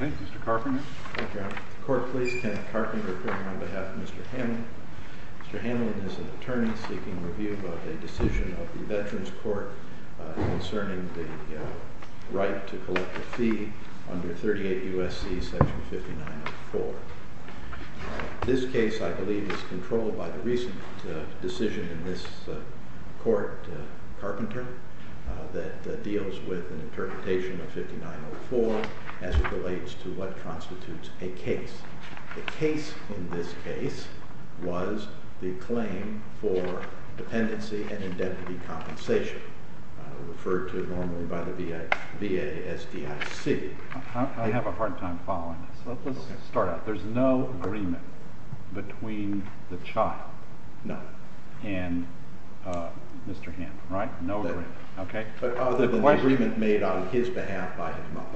Mr. Carpenter, on behalf of Mr. Hamlin, Mr. Hamlin is an attorney seeking review of a decision of the Veterans Court concerning the right to collect a fee under 38 U.S.C. section 5904. This case, I believe, is controlled by the recent decision in this court, Carpenter, that deals with an interpretation of 5904 as it relates to what constitutes a case. The case in this case was the claim for dependency and indebted compensation, referred to normally by the VASDIC. I have a hard time following this. Let's start out. There's no agreement between the child and Mr. Hamlin, right? No agreement. Other than the agreement made on his behalf by his mother.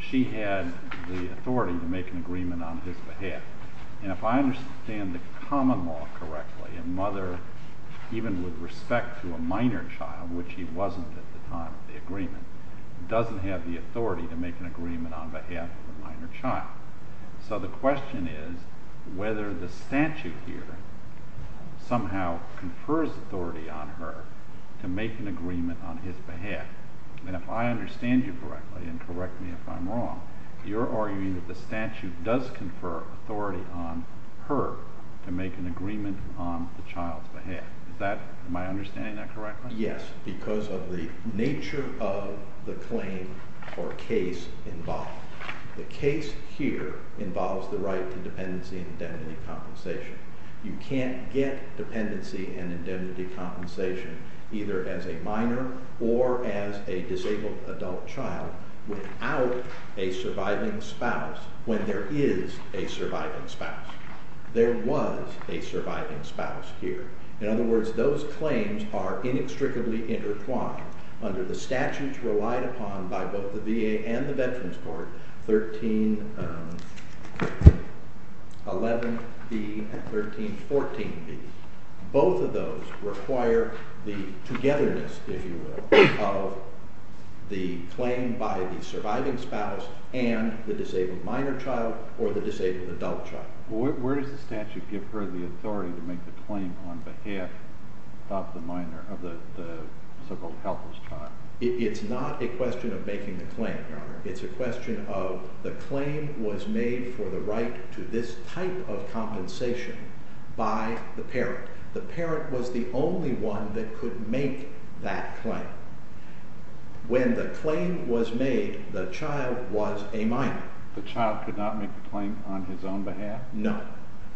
He doesn't have the authority to make an agreement on behalf of a minor child. So the question is whether the statute here somehow confers authority on her to make an agreement on his behalf. And if I understand you correctly, and correct me if I'm wrong, you're arguing that the statute does confer authority on her to make an agreement on the child's behalf. Am I understanding that correctly? Yes, because of the nature of the claim or case involved. The case here involves the right to dependency and indemnity compensation. You can't get dependency and indemnity compensation either as a minor or as a disabled adult child without a surviving spouse when there is a surviving spouse. There was a surviving spouse here. In other words, those claims are inextricably intertwined under the statutes relied upon by both the VA and the Veterans Court, 1311B and 1314B. Both of those require the togetherness, if you will, of the claim by the surviving spouse and the disabled minor child or the disabled adult child. Where does the statute give her the authority to make the claim on behalf of the minor, of the so-called helpless child? It's not a question of making the claim, Your Honor. It's a question of the claim was made for the right to this type of compensation by the parent. The parent was the only one that could make that claim. When the claim was made, the child was a minor. The child could not make the claim on his own behalf? No.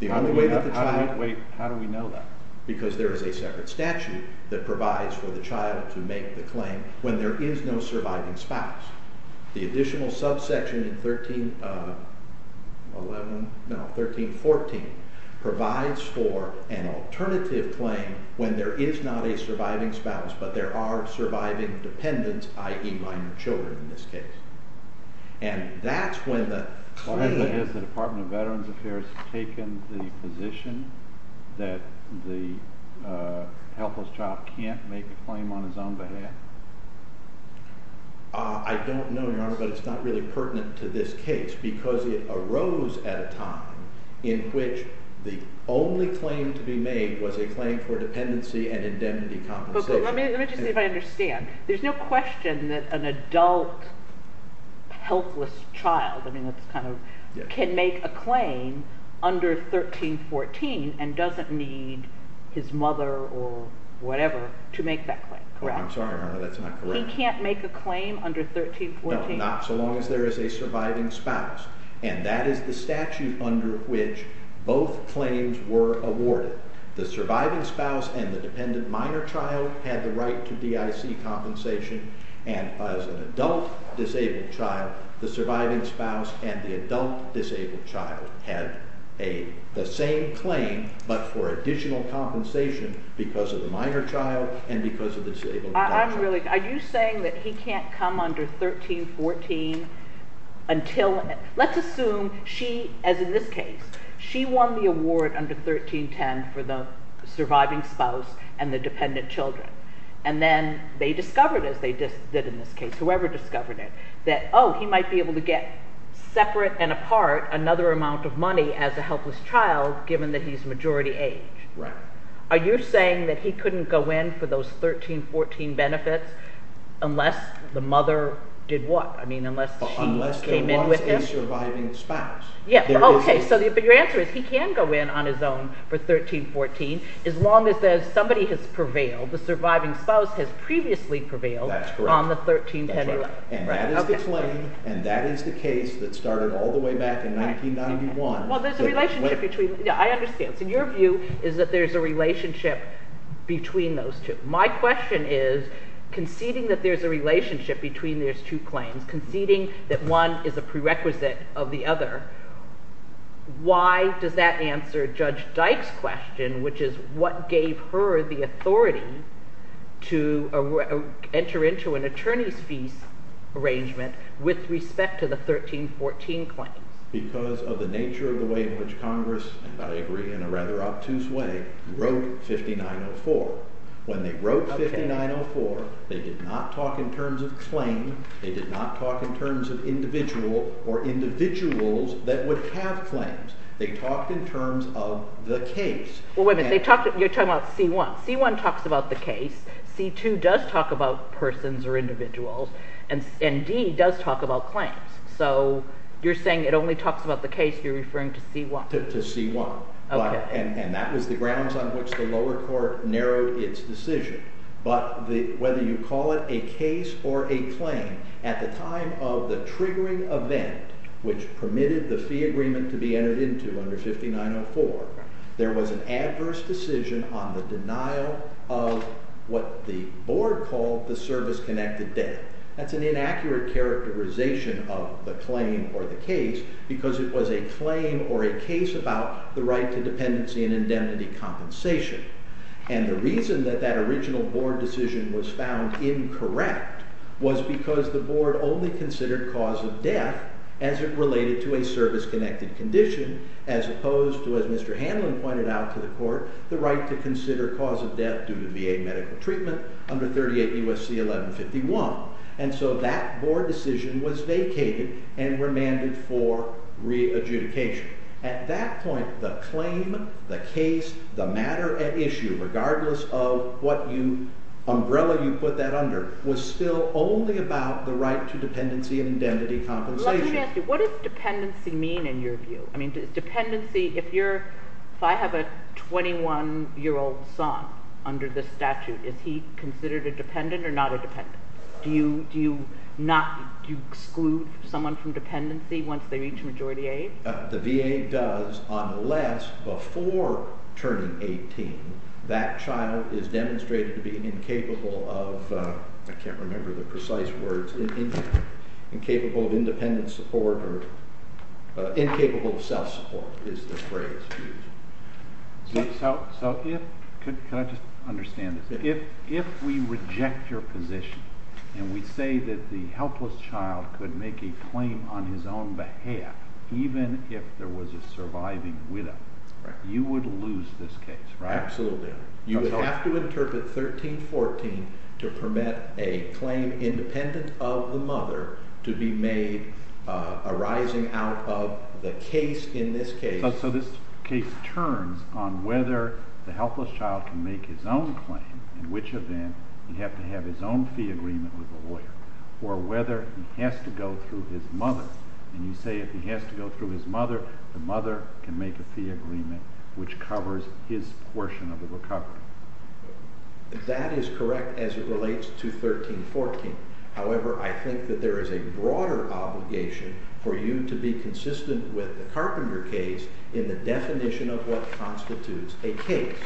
How do we know that? Because there is a separate statute that provides for the child to make the claim when there is no surviving spouse. The additional subsection in 1311, no, 1314 provides for an alternative claim when there is not a surviving spouse but there are surviving dependents, i.e. minor children in this case. And that's when the claim… Why is it that the Department of Veterans Affairs has taken the position that the helpless child can't make a claim on his own behalf? I don't know, Your Honor, but it's not really pertinent to this case because it arose at a time in which the only claim to be made was a claim for dependency and indemnity compensation. Let me just see if I understand. There's no question that an adult, helpless child can make a claim under 1314 and doesn't need his mother or whatever to make that claim, correct? I'm sorry, Your Honor, that's not correct. He can't make a claim under 1314? No, not so long as there is a surviving spouse, and that is the statute under which both claims were awarded. The surviving spouse and the dependent minor child had the right to DIC compensation, and as an adult disabled child, the surviving spouse and the adult disabled child had the same claim but for additional compensation because of the minor child and because of the disabled child. Are you saying that he can't come under 1314 until – let's assume she, as in this case, she won the award under 1310 for the surviving spouse and the dependent children, and then they discovered, as they did in this case, whoever discovered it, that, oh, he might be able to get separate and apart another amount of money as a helpless child given that he's majority age. Right. Are you saying that he couldn't go in for those 1314 benefits unless the mother did what? I mean, unless she came in with him? Unless there was a surviving spouse. Yeah. Oh, okay. So your answer is he can go in on his own for 1314 as long as somebody has prevailed, the surviving spouse has previously prevailed on the 1310. That's correct. That's right. And that is the claim, and that is the case that started all the way back in 1991. Well, there's a relationship between – yeah, I understand. So your view is that there's a relationship between those two. My question is, conceding that there's a relationship between those two claims, conceding that one is a prerequisite of the other, why does that answer Judge Dyke's question, which is what gave her the authority to enter into an attorney's fees arrangement with respect to the 1314 claim? Because of the nature of the way in which Congress, and I agree in a rather obtuse way, wrote 5904. When they wrote 5904, they did not talk in terms of claim, they did not talk in terms of individual or individuals that would have claims. They talked in terms of the case. Well, wait a minute. You're talking about C1. C1 talks about the case, C2 does talk about persons or individuals, and D does talk about claims. So you're saying it only talks about the case, you're referring to C1. To C1. And that was the grounds on which the lower court narrowed its decision. But whether you call it a case or a claim, at the time of the triggering event which permitted the fee agreement to be entered into under 5904, there was an adverse decision on the denial of what the board called the service-connected debt. That's an inaccurate characterization of the claim or the case, because it was a claim or a case about the right to dependency and indemnity compensation. And the reason that that original board decision was found incorrect was because the board only considered cause of death as it related to a service-connected condition, as opposed to, as Mr. Hanlon pointed out to the court, the right to consider cause of death due to VA medical treatment under 38 U.S.C. 1151. And so that board decision was vacated and remanded for re-adjudication. At that point, the claim, the case, the matter at issue, regardless of what umbrella you put that under, was still only about the right to dependency and indemnity compensation. Let me ask you, what does dependency mean in your view? Dependency, if I have a 21-year-old son under this statute, is he considered a dependent or not a dependent? Do you exclude someone from dependency once they reach majority age? The VA does unless, before turning 18, that child is demonstrated to be incapable of, I can't remember the precise words, incapable of independent support or incapable of self-support is the phrase used. So if, could I just understand this, if we reject your position and we say that the helpless child could make a claim on his own behalf, even if there was a surviving widow, you would lose this case, right? Absolutely. You would have to interpret 1314 to permit a claim independent of the mother to be made arising out of the case in this case. So this case turns on whether the helpless child can make his own claim, in which event he'd have to have his own fee agreement with a lawyer, or whether he has to go through his mother. And you say if he has to go through his mother, the mother can make a fee agreement, which covers his portion of the recovery. That is correct as it relates to 1314. However, I think that there is a broader obligation for you to be consistent with the Carpenter case in the definition of what constitutes a case.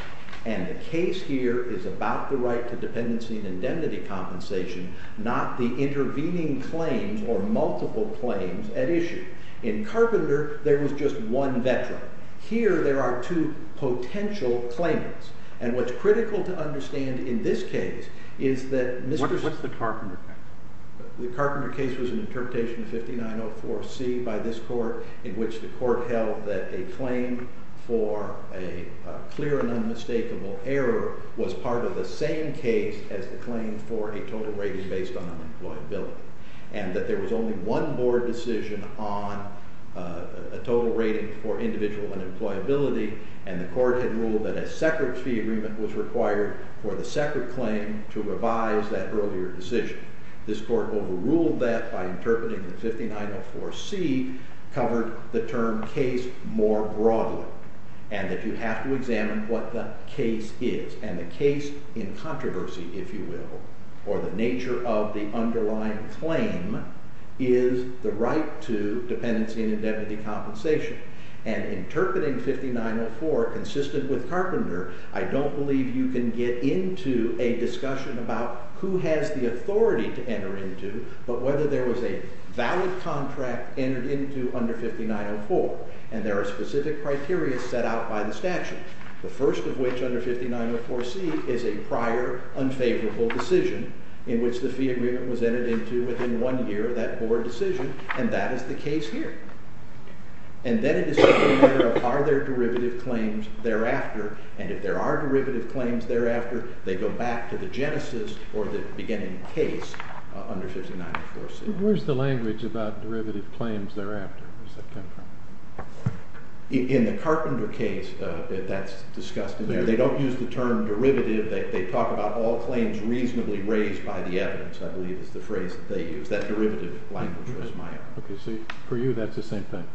And the case here is about the right to dependency and indemnity compensation, not the intervening claims or multiple claims at issue. In Carpenter, there was just one veteran. Here there are two potential claimants. And what's critical to understand in this case is that Mr. What's the Carpenter case? The Carpenter case was an interpretation of 5904C by this court, in which the court held that a claim for a clear and unmistakable error was part of the same case as the claim for a total rating based on unemployability, and that there was only one board decision on a total rating for individual unemployability, and the court had ruled that a separate fee agreement was required for the separate claim to revise that earlier decision. This court overruled that by interpreting the 5904C, covered the term case more broadly, and that you have to examine what the case is. And the case in controversy, if you will, or the nature of the underlying claim, is the right to dependency and indemnity compensation. And interpreting 5904 consistent with Carpenter, I don't believe you can get into a discussion about who has the authority to enter into but whether there was a valid contract entered into under 5904. And there are specific criteria set out by the statute, the first of which under 5904C is a prior unfavorable decision in which the fee agreement was entered into within one year of that board decision, and that is the case here. And then it is a matter of are there derivative claims thereafter, and if there are derivative claims thereafter, they go back to the genesis or the beginning case under 5904C. Where's the language about derivative claims thereafter? In the Carpenter case, that's discussed in there. They don't use the term derivative. They talk about all claims reasonably raised by the evidence, I believe is the phrase that they use. That derivative language was my own. Okay, so for you that's the same thing.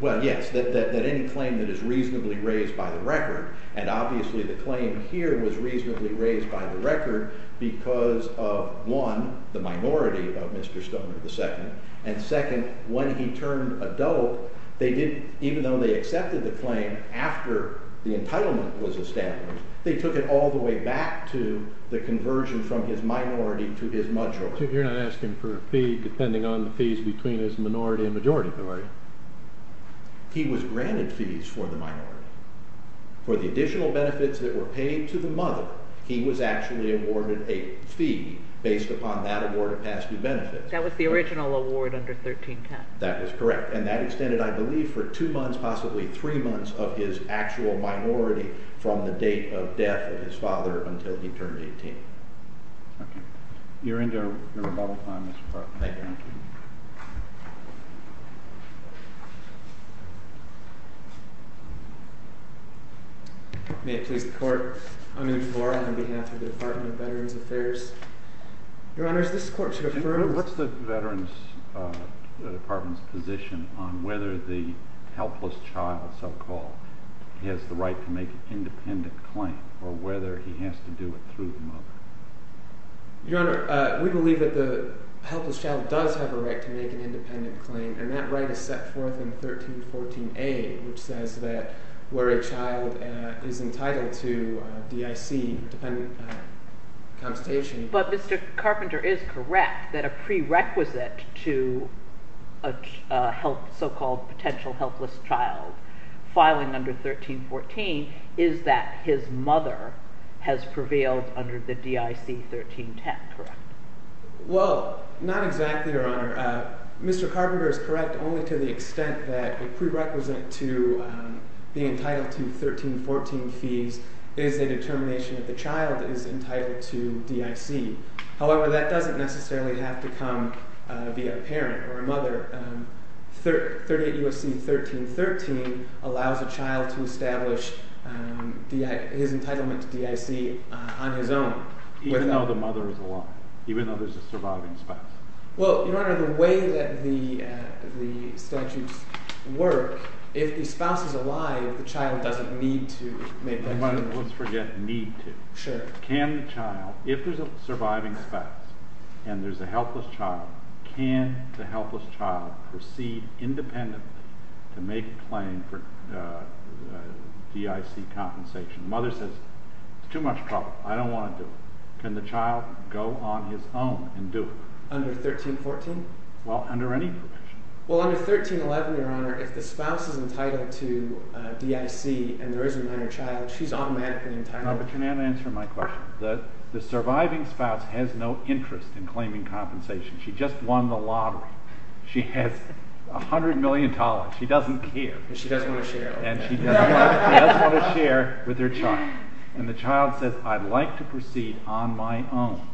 Well, yes, that any claim that is reasonably raised by the record, and obviously the claim here was reasonably raised by the record because of one, the minority of Mr. Stoner II, and second, when he turned adult, even though they accepted the claim after the entitlement was established, they took it all the way back to the conversion from his minority to his majority. You're not asking for a fee depending on the fees between his minority and majority, are you? He was granted fees for the minority. For the additional benefits that were paid to the mother, he was actually awarded a fee based upon that award of past due benefits. That was the original award under 1310. That was correct, and that extended, I believe, for two months, possibly three months of his actual minority from the date of death of his father until he turned 18. Okay. You're into your rebuttal time, Mr. Clark. Thank you. Thank you. May it please the Court, on behalf of the Department of Veterans Affairs, Your Honors, this Court should defer. What's the Department's position on whether the helpless child, so-called, has the right to make an independent claim or whether he has to do it through the mother? Your Honor, we believe that the helpless child does have a right to make an independent claim, and that right is set forth in 1314A, which says that where a child is entitled to DIC, dependent constation. But Mr. Carpenter is correct that a prerequisite to a so-called potential helpless child filing under 1314 is that his mother has prevailed under the DIC 1310, correct? Well, not exactly, Your Honor. Mr. Carpenter is correct only to the extent that a prerequisite to being entitled to 1314 fees is a determination that the child is entitled to DIC. However, that doesn't necessarily have to come via a parent or a mother. 38 U.S.C. 1313 allows a child to establish his entitlement to DIC on his own. Even though the mother is alive, even though there's a surviving spouse. Well, Your Honor, the way that the statutes work, if the spouse is alive, the child doesn't need to make that determination. Let's forget need to. Sure. Can the child, if there's a surviving spouse and there's a helpless child, can the helpless child proceed independently to make a claim for DIC compensation? The mother says, it's too much trouble. I don't want to do it. Can the child go on his own and do it? Under 1314? Well, under any provision. Well, under 1311, Your Honor, if the spouse is entitled to DIC and there is a minor child, she's automatically entitled. No, but you're not answering my question. The surviving spouse has no interest in claiming compensation. She just won the lottery. She has $100 million. She doesn't care. She doesn't want to share. And she doesn't want to share with her child. And the child says, I'd like to proceed on my own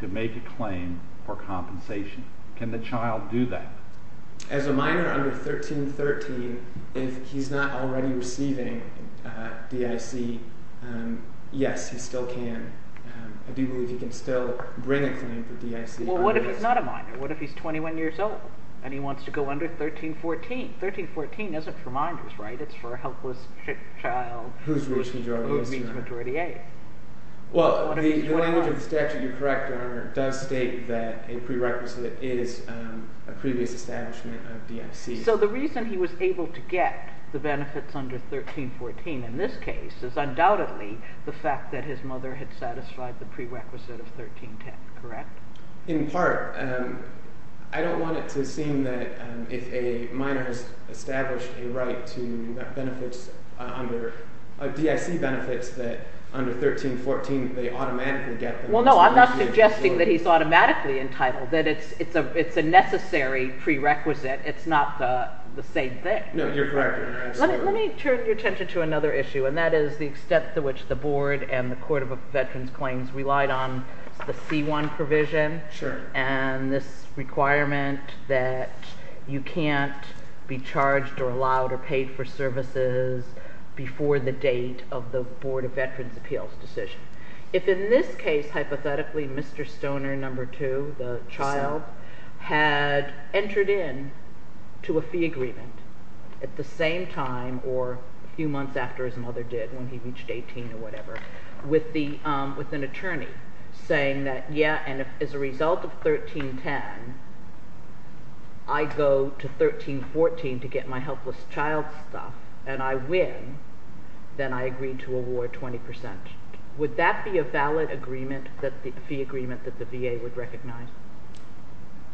to make a claim for compensation. Can the child do that? As a minor under 1313, if he's not already receiving DIC, yes, he still can. I do believe he can still bring a claim for DIC. Well, what if he's not a minor? What if he's 21 years old and he wants to go under 1314? 1314 isn't for minors, right? It's for a helpless child who's reached majority age. Well, the language of the statute, you're correct, Your Honor, does state that a prerequisite is a previous establishment of DIC. So the reason he was able to get the benefits under 1314 in this case is undoubtedly the fact that his mother had satisfied the prerequisite of 1310, correct? In part, I don't want it to seem that if a minor has established a right to DIC benefits that under 1314 they automatically get them. Well, no, I'm not suggesting that he's automatically entitled, that it's a necessary prerequisite. It's not the same thing. Let me turn your attention to another issue, and that is the extent to which the Board and the Court of Veterans Claims relied on the C1 provision and this requirement that you can't be charged or allowed or paid for services before the date of the Board of Veterans' Appeals decision. If in this case, hypothetically, Mr. Stoner, number two, the child, had entered in to a fee agreement at the same time or a few months after his mother did when he reached 18 or whatever with an attorney saying that, yeah, and as a result of 1310, I go to 1314 to get my helpless child's stuff and I win, then I agree to award 20%. Would that be a valid agreement, the fee agreement that the VA would recognize?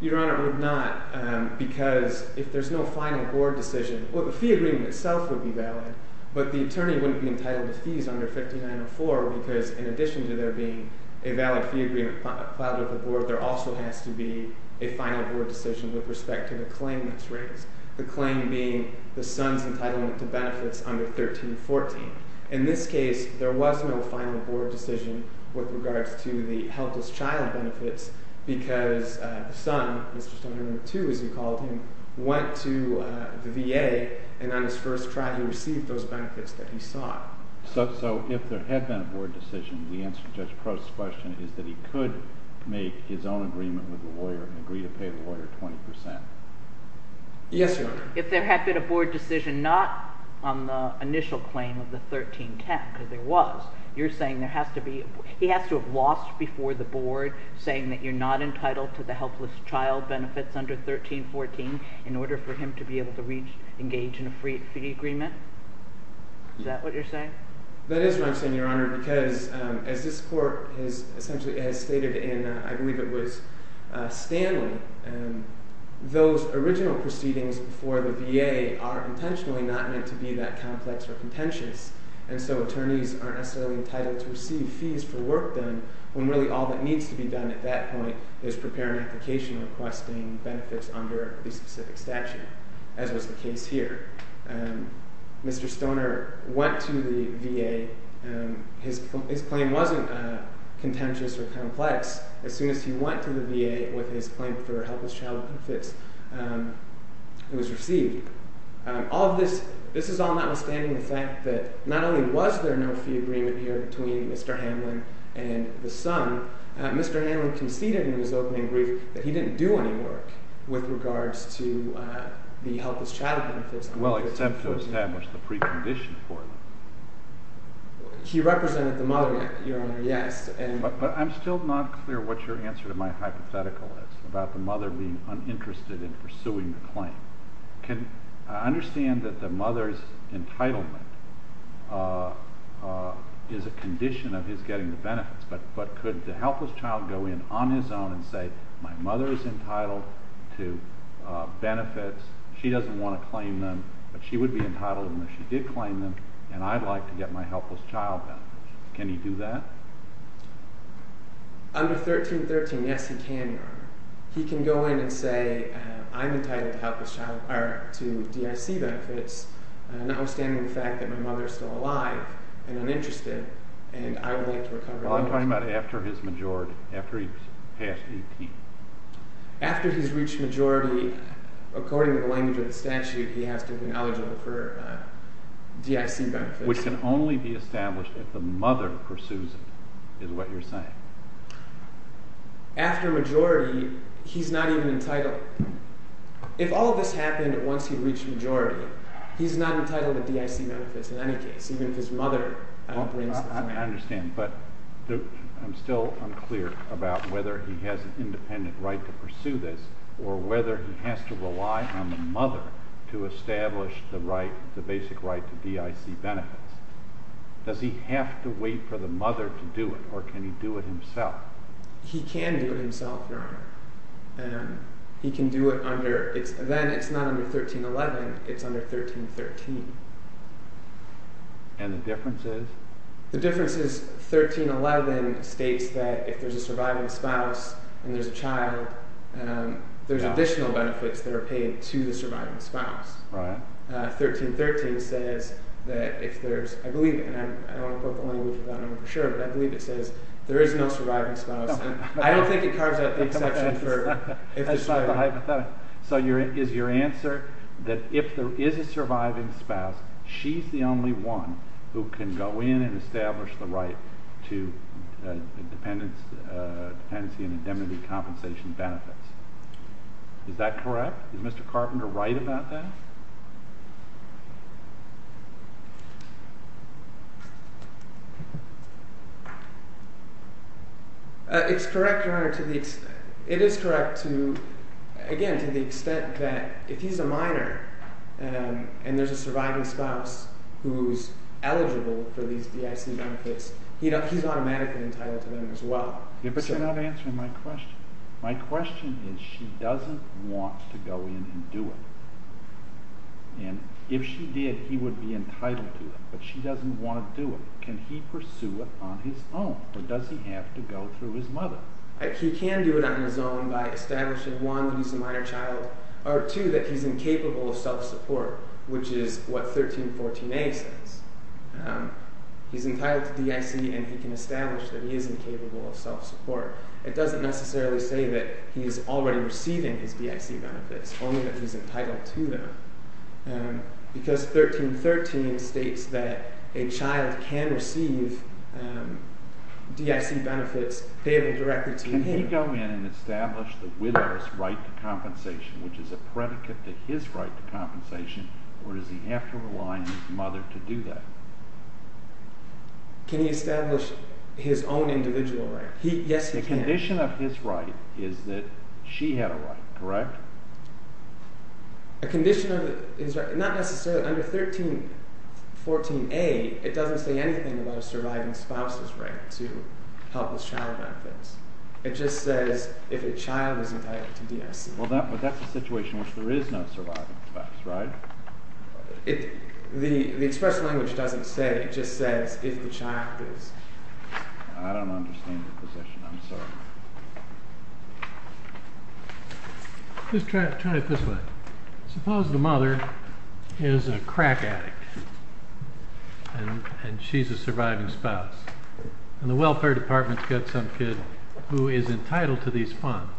Your Honor, it would not because if there's no final Board decision, well, the fee agreement itself would be valid, but the attorney wouldn't be entitled to fees under 5904 because in addition to there being a valid fee agreement filed with the Board, there also has to be a final Board decision with respect to the claim that's raised, the claim being the son's entitlement to benefits under 1314. In this case, there was no final Board decision with regards to the helpless child benefits because the son, Mr. Stoner, number two, as you called him, went to the VA and on his first try, he received those benefits that he sought. So if there had been a Board decision, the answer to Judge Prost's question is that he could make his own agreement with the lawyer and agree to pay the lawyer 20%? Yes, Your Honor. If there had been a Board decision not on the initial claim of the 1310 because there was, you're saying there has to be – he has to have lost before the Board saying that you're not entitled to the helpless child benefits under 1314 in order for him to be able to reach – engage in a fee agreement? Is that what you're saying? That is what I'm saying, Your Honor, because as this court has essentially stated in, I believe it was Stanley, those original proceedings before the VA are intentionally not meant to be that complex or contentious. And so attorneys aren't necessarily entitled to receive fees for work done when really all that needs to be done at that point is prepare an application requesting benefits under the specific statute, as was the case here. Mr. Stoner went to the VA. His claim wasn't contentious or complex. As soon as he went to the VA with his claim for helpless child benefits, it was received. All of this – this is all notwithstanding the fact that not only was there no fee agreement here between Mr. Hamlin and the son, Mr. Hamlin conceded in his opening brief that he didn't do any work with regards to the helpless child benefits under 1314. Well, except to establish the precondition for it. He represented the mother, Your Honor, yes. But I'm still not clear what your answer to my hypothetical is about the mother being uninterested in pursuing the claim. I understand that the mother's entitlement is a condition of his getting the benefits, but could the helpless child go in on his own and say, My mother is entitled to benefits. She doesn't want to claim them, but she would be entitled to them if she did claim them, and I'd like to get my helpless child benefits. Can he do that? Under 1313, yes, he can, Your Honor. He can go in and say, I'm entitled to DIC benefits, notwithstanding the fact that my mother is still alive and uninterested, and I would like to recover those benefits. Well, I'm talking about after his majority, after he's passed 18. After he's reached majority, according to the language of the statute, he has to have been eligible for DIC benefits. Which can only be established if the mother pursues it, is what you're saying. After majority, he's not even entitled. If all of this happened once he reached majority, he's not entitled to DIC benefits in any case, even if his mother brings them in. I understand, but I'm still unclear about whether he has an independent right to pursue this, or whether he has to rely on the mother to establish the basic right to DIC benefits. Does he have to wait for the mother to do it, or can he do it himself? He can do it himself, Your Honor. He can do it under, then it's not under 1311, it's under 1313. And the difference is? The difference is 1311 states that if there's a surviving spouse and there's a child, there's additional benefits that are paid to the surviving spouse. Right. 1313 says that if there's – I believe it, and I don't want to quote the language of that number for sure, but I believe it says there is no surviving spouse. I don't think it carves out the exception for – So is your answer that if there is a surviving spouse, she's the only one who can go in and establish the right to dependency and indemnity compensation benefits? Is that correct? Is Mr. Carpenter right about that? It's correct, Your Honor, to the – it is correct to – again, to the extent that if he's a minor and there's a surviving spouse who's eligible for these DIC benefits, he's automatically entitled to them as well. But you're not answering my question. My question is she doesn't want to go in and do it. And if she did, he would be entitled to it, but she doesn't want to do it. Can he pursue it on his own, or does he have to go through his mother? He can do it on his own by establishing, one, he's a minor child, or two, that he's incapable of self-support, which is what 1314a says. He's entitled to DIC and he can establish that he is incapable of self-support. It doesn't necessarily say that he's already receiving his DIC benefits, only that he's entitled to them because 1313 states that a child can receive DIC benefits paid directly to him. Can he go in and establish the widow's right to compensation, which is a predicate to his right to compensation, or does he have to rely on his mother to do that? Can he establish his own individual right? Yes, he can. The condition of his right is that she had a right, correct? A condition of his right, not necessarily. Under 1314a, it doesn't say anything about a surviving spouse's right to help his child benefits. It just says if a child is entitled to DIC. Well, that's a situation in which there is no surviving spouse, right? The express language doesn't say. It just says if the child is… I don't understand your position. I'm sorry. Just try it this way. Suppose the mother is a crack addict and she's a surviving spouse. And the welfare department's got some kid who is entitled to these funds.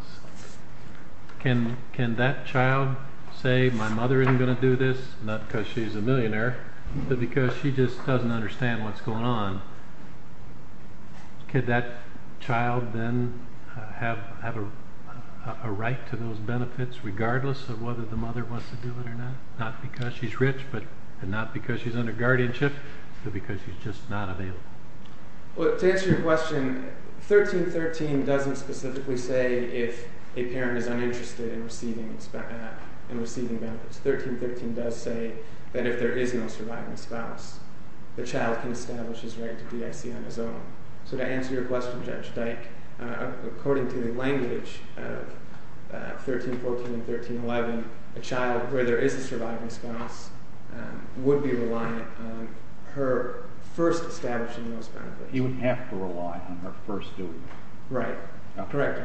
Can that child say, my mother isn't going to do this, not because she's a millionaire, but because she just doesn't understand what's going on? Could that child then have a right to those benefits regardless of whether the mother wants to do it or not? Not because she's rich, but not because she's under guardianship, but because she's just not available. Well, to answer your question, 1313 doesn't specifically say if a parent is uninterested in receiving benefits. 1313 does say that if there is no surviving spouse, the child can establish his right to DIC on his own. So to answer your question, Judge Dyke, according to the language of 1314 and 1311, a child where there is a surviving spouse would be reliant on her first establishing those benefits. He would have to rely on her first doing it. Right. Correct.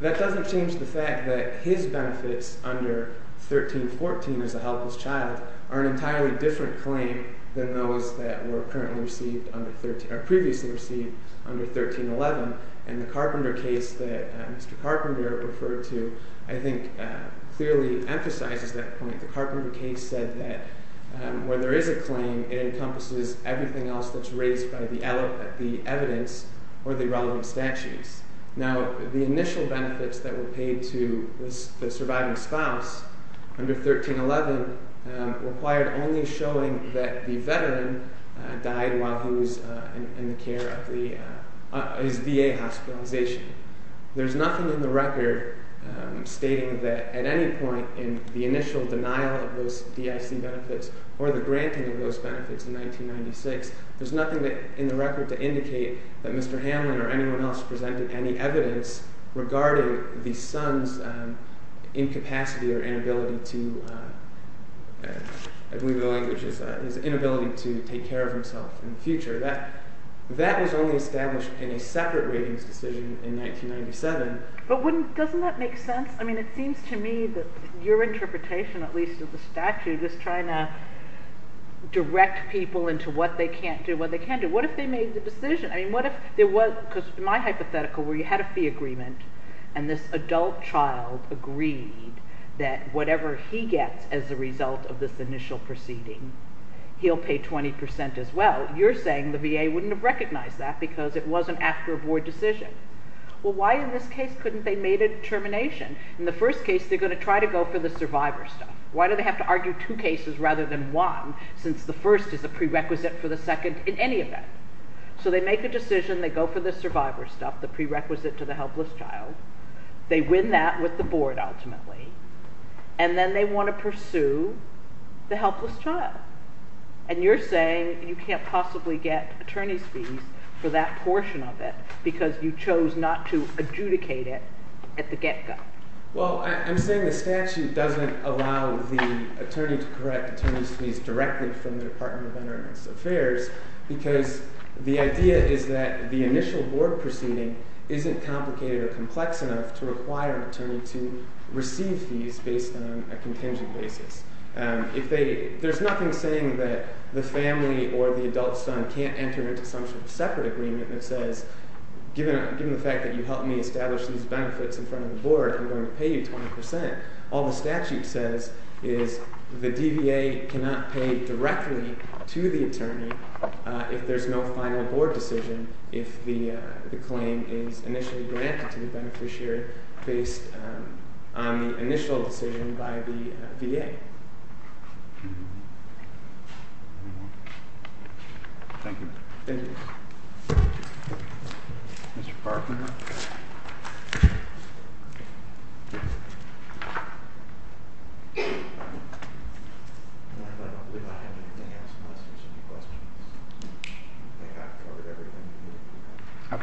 That doesn't change the fact that his benefits under 1314 as a helpless child are an entirely different claim than those that were previously received under 1311. And the Carpenter case that Mr. Carpenter referred to, I think, clearly emphasizes that point. The Carpenter case said that where there is a claim, it encompasses everything else that's raised by the evidence or the relevant statutes. Now, the initial benefits that were paid to the surviving spouse under 1311 required only showing that the veteran died while he was in the care of his VA hospitalization. There's nothing in the record stating that at any point in the initial denial of those DIC benefits or the granting of those benefits in 1996, there's nothing in the record to indicate that Mr. Hanlon or anyone else presented any evidence regarding the son's incapacity or inability to, I believe the language is that, his inability to take care of himself in the future. That was only established in a separate ratings decision in 1997. But wouldn't – doesn't that make sense? I mean, it seems to me that your interpretation, at least, of the statute is trying to direct people into what they can't do, what they can do. What if they made the decision? I mean what if there was – because my hypothetical where you had a fee agreement and this adult child agreed that whatever he gets as a result of this initial proceeding, he'll pay 20% as well. You're saying the VA wouldn't have recognized that because it wasn't after a board decision. Well, why in this case couldn't they have made a determination? In the first case, they're going to try to go for the survivor stuff. Why do they have to argue two cases rather than one since the first is a prerequisite for the second in any event? So they make a decision. They go for the survivor stuff, the prerequisite to the helpless child. They win that with the board ultimately. And then they want to pursue the helpless child. And you're saying you can't possibly get attorney's fees for that portion of it because you chose not to adjudicate it at the get-go. Well, I'm saying the statute doesn't allow the attorney to correct attorney's fees directly from the Department of Internal Affairs because the idea is that the initial board proceeding isn't complicated or complex enough to require an attorney to receive fees based on a contingent basis. There's nothing saying that the family or the adult son can't enter into some sort of separate agreement that says, given the fact that you helped me establish these benefits in front of the board, I'm going to pay you 20%. All the statute says is the DVA cannot pay directly to the attorney if there's no final board decision if the claim is initially granted to the beneficiary based on the initial decision by the VA. Thank you. Thank you. Mr. Farquhar. I don't believe I have anything else unless there's any questions. I covered everything you needed to know. Okay. Thank you. Thank you.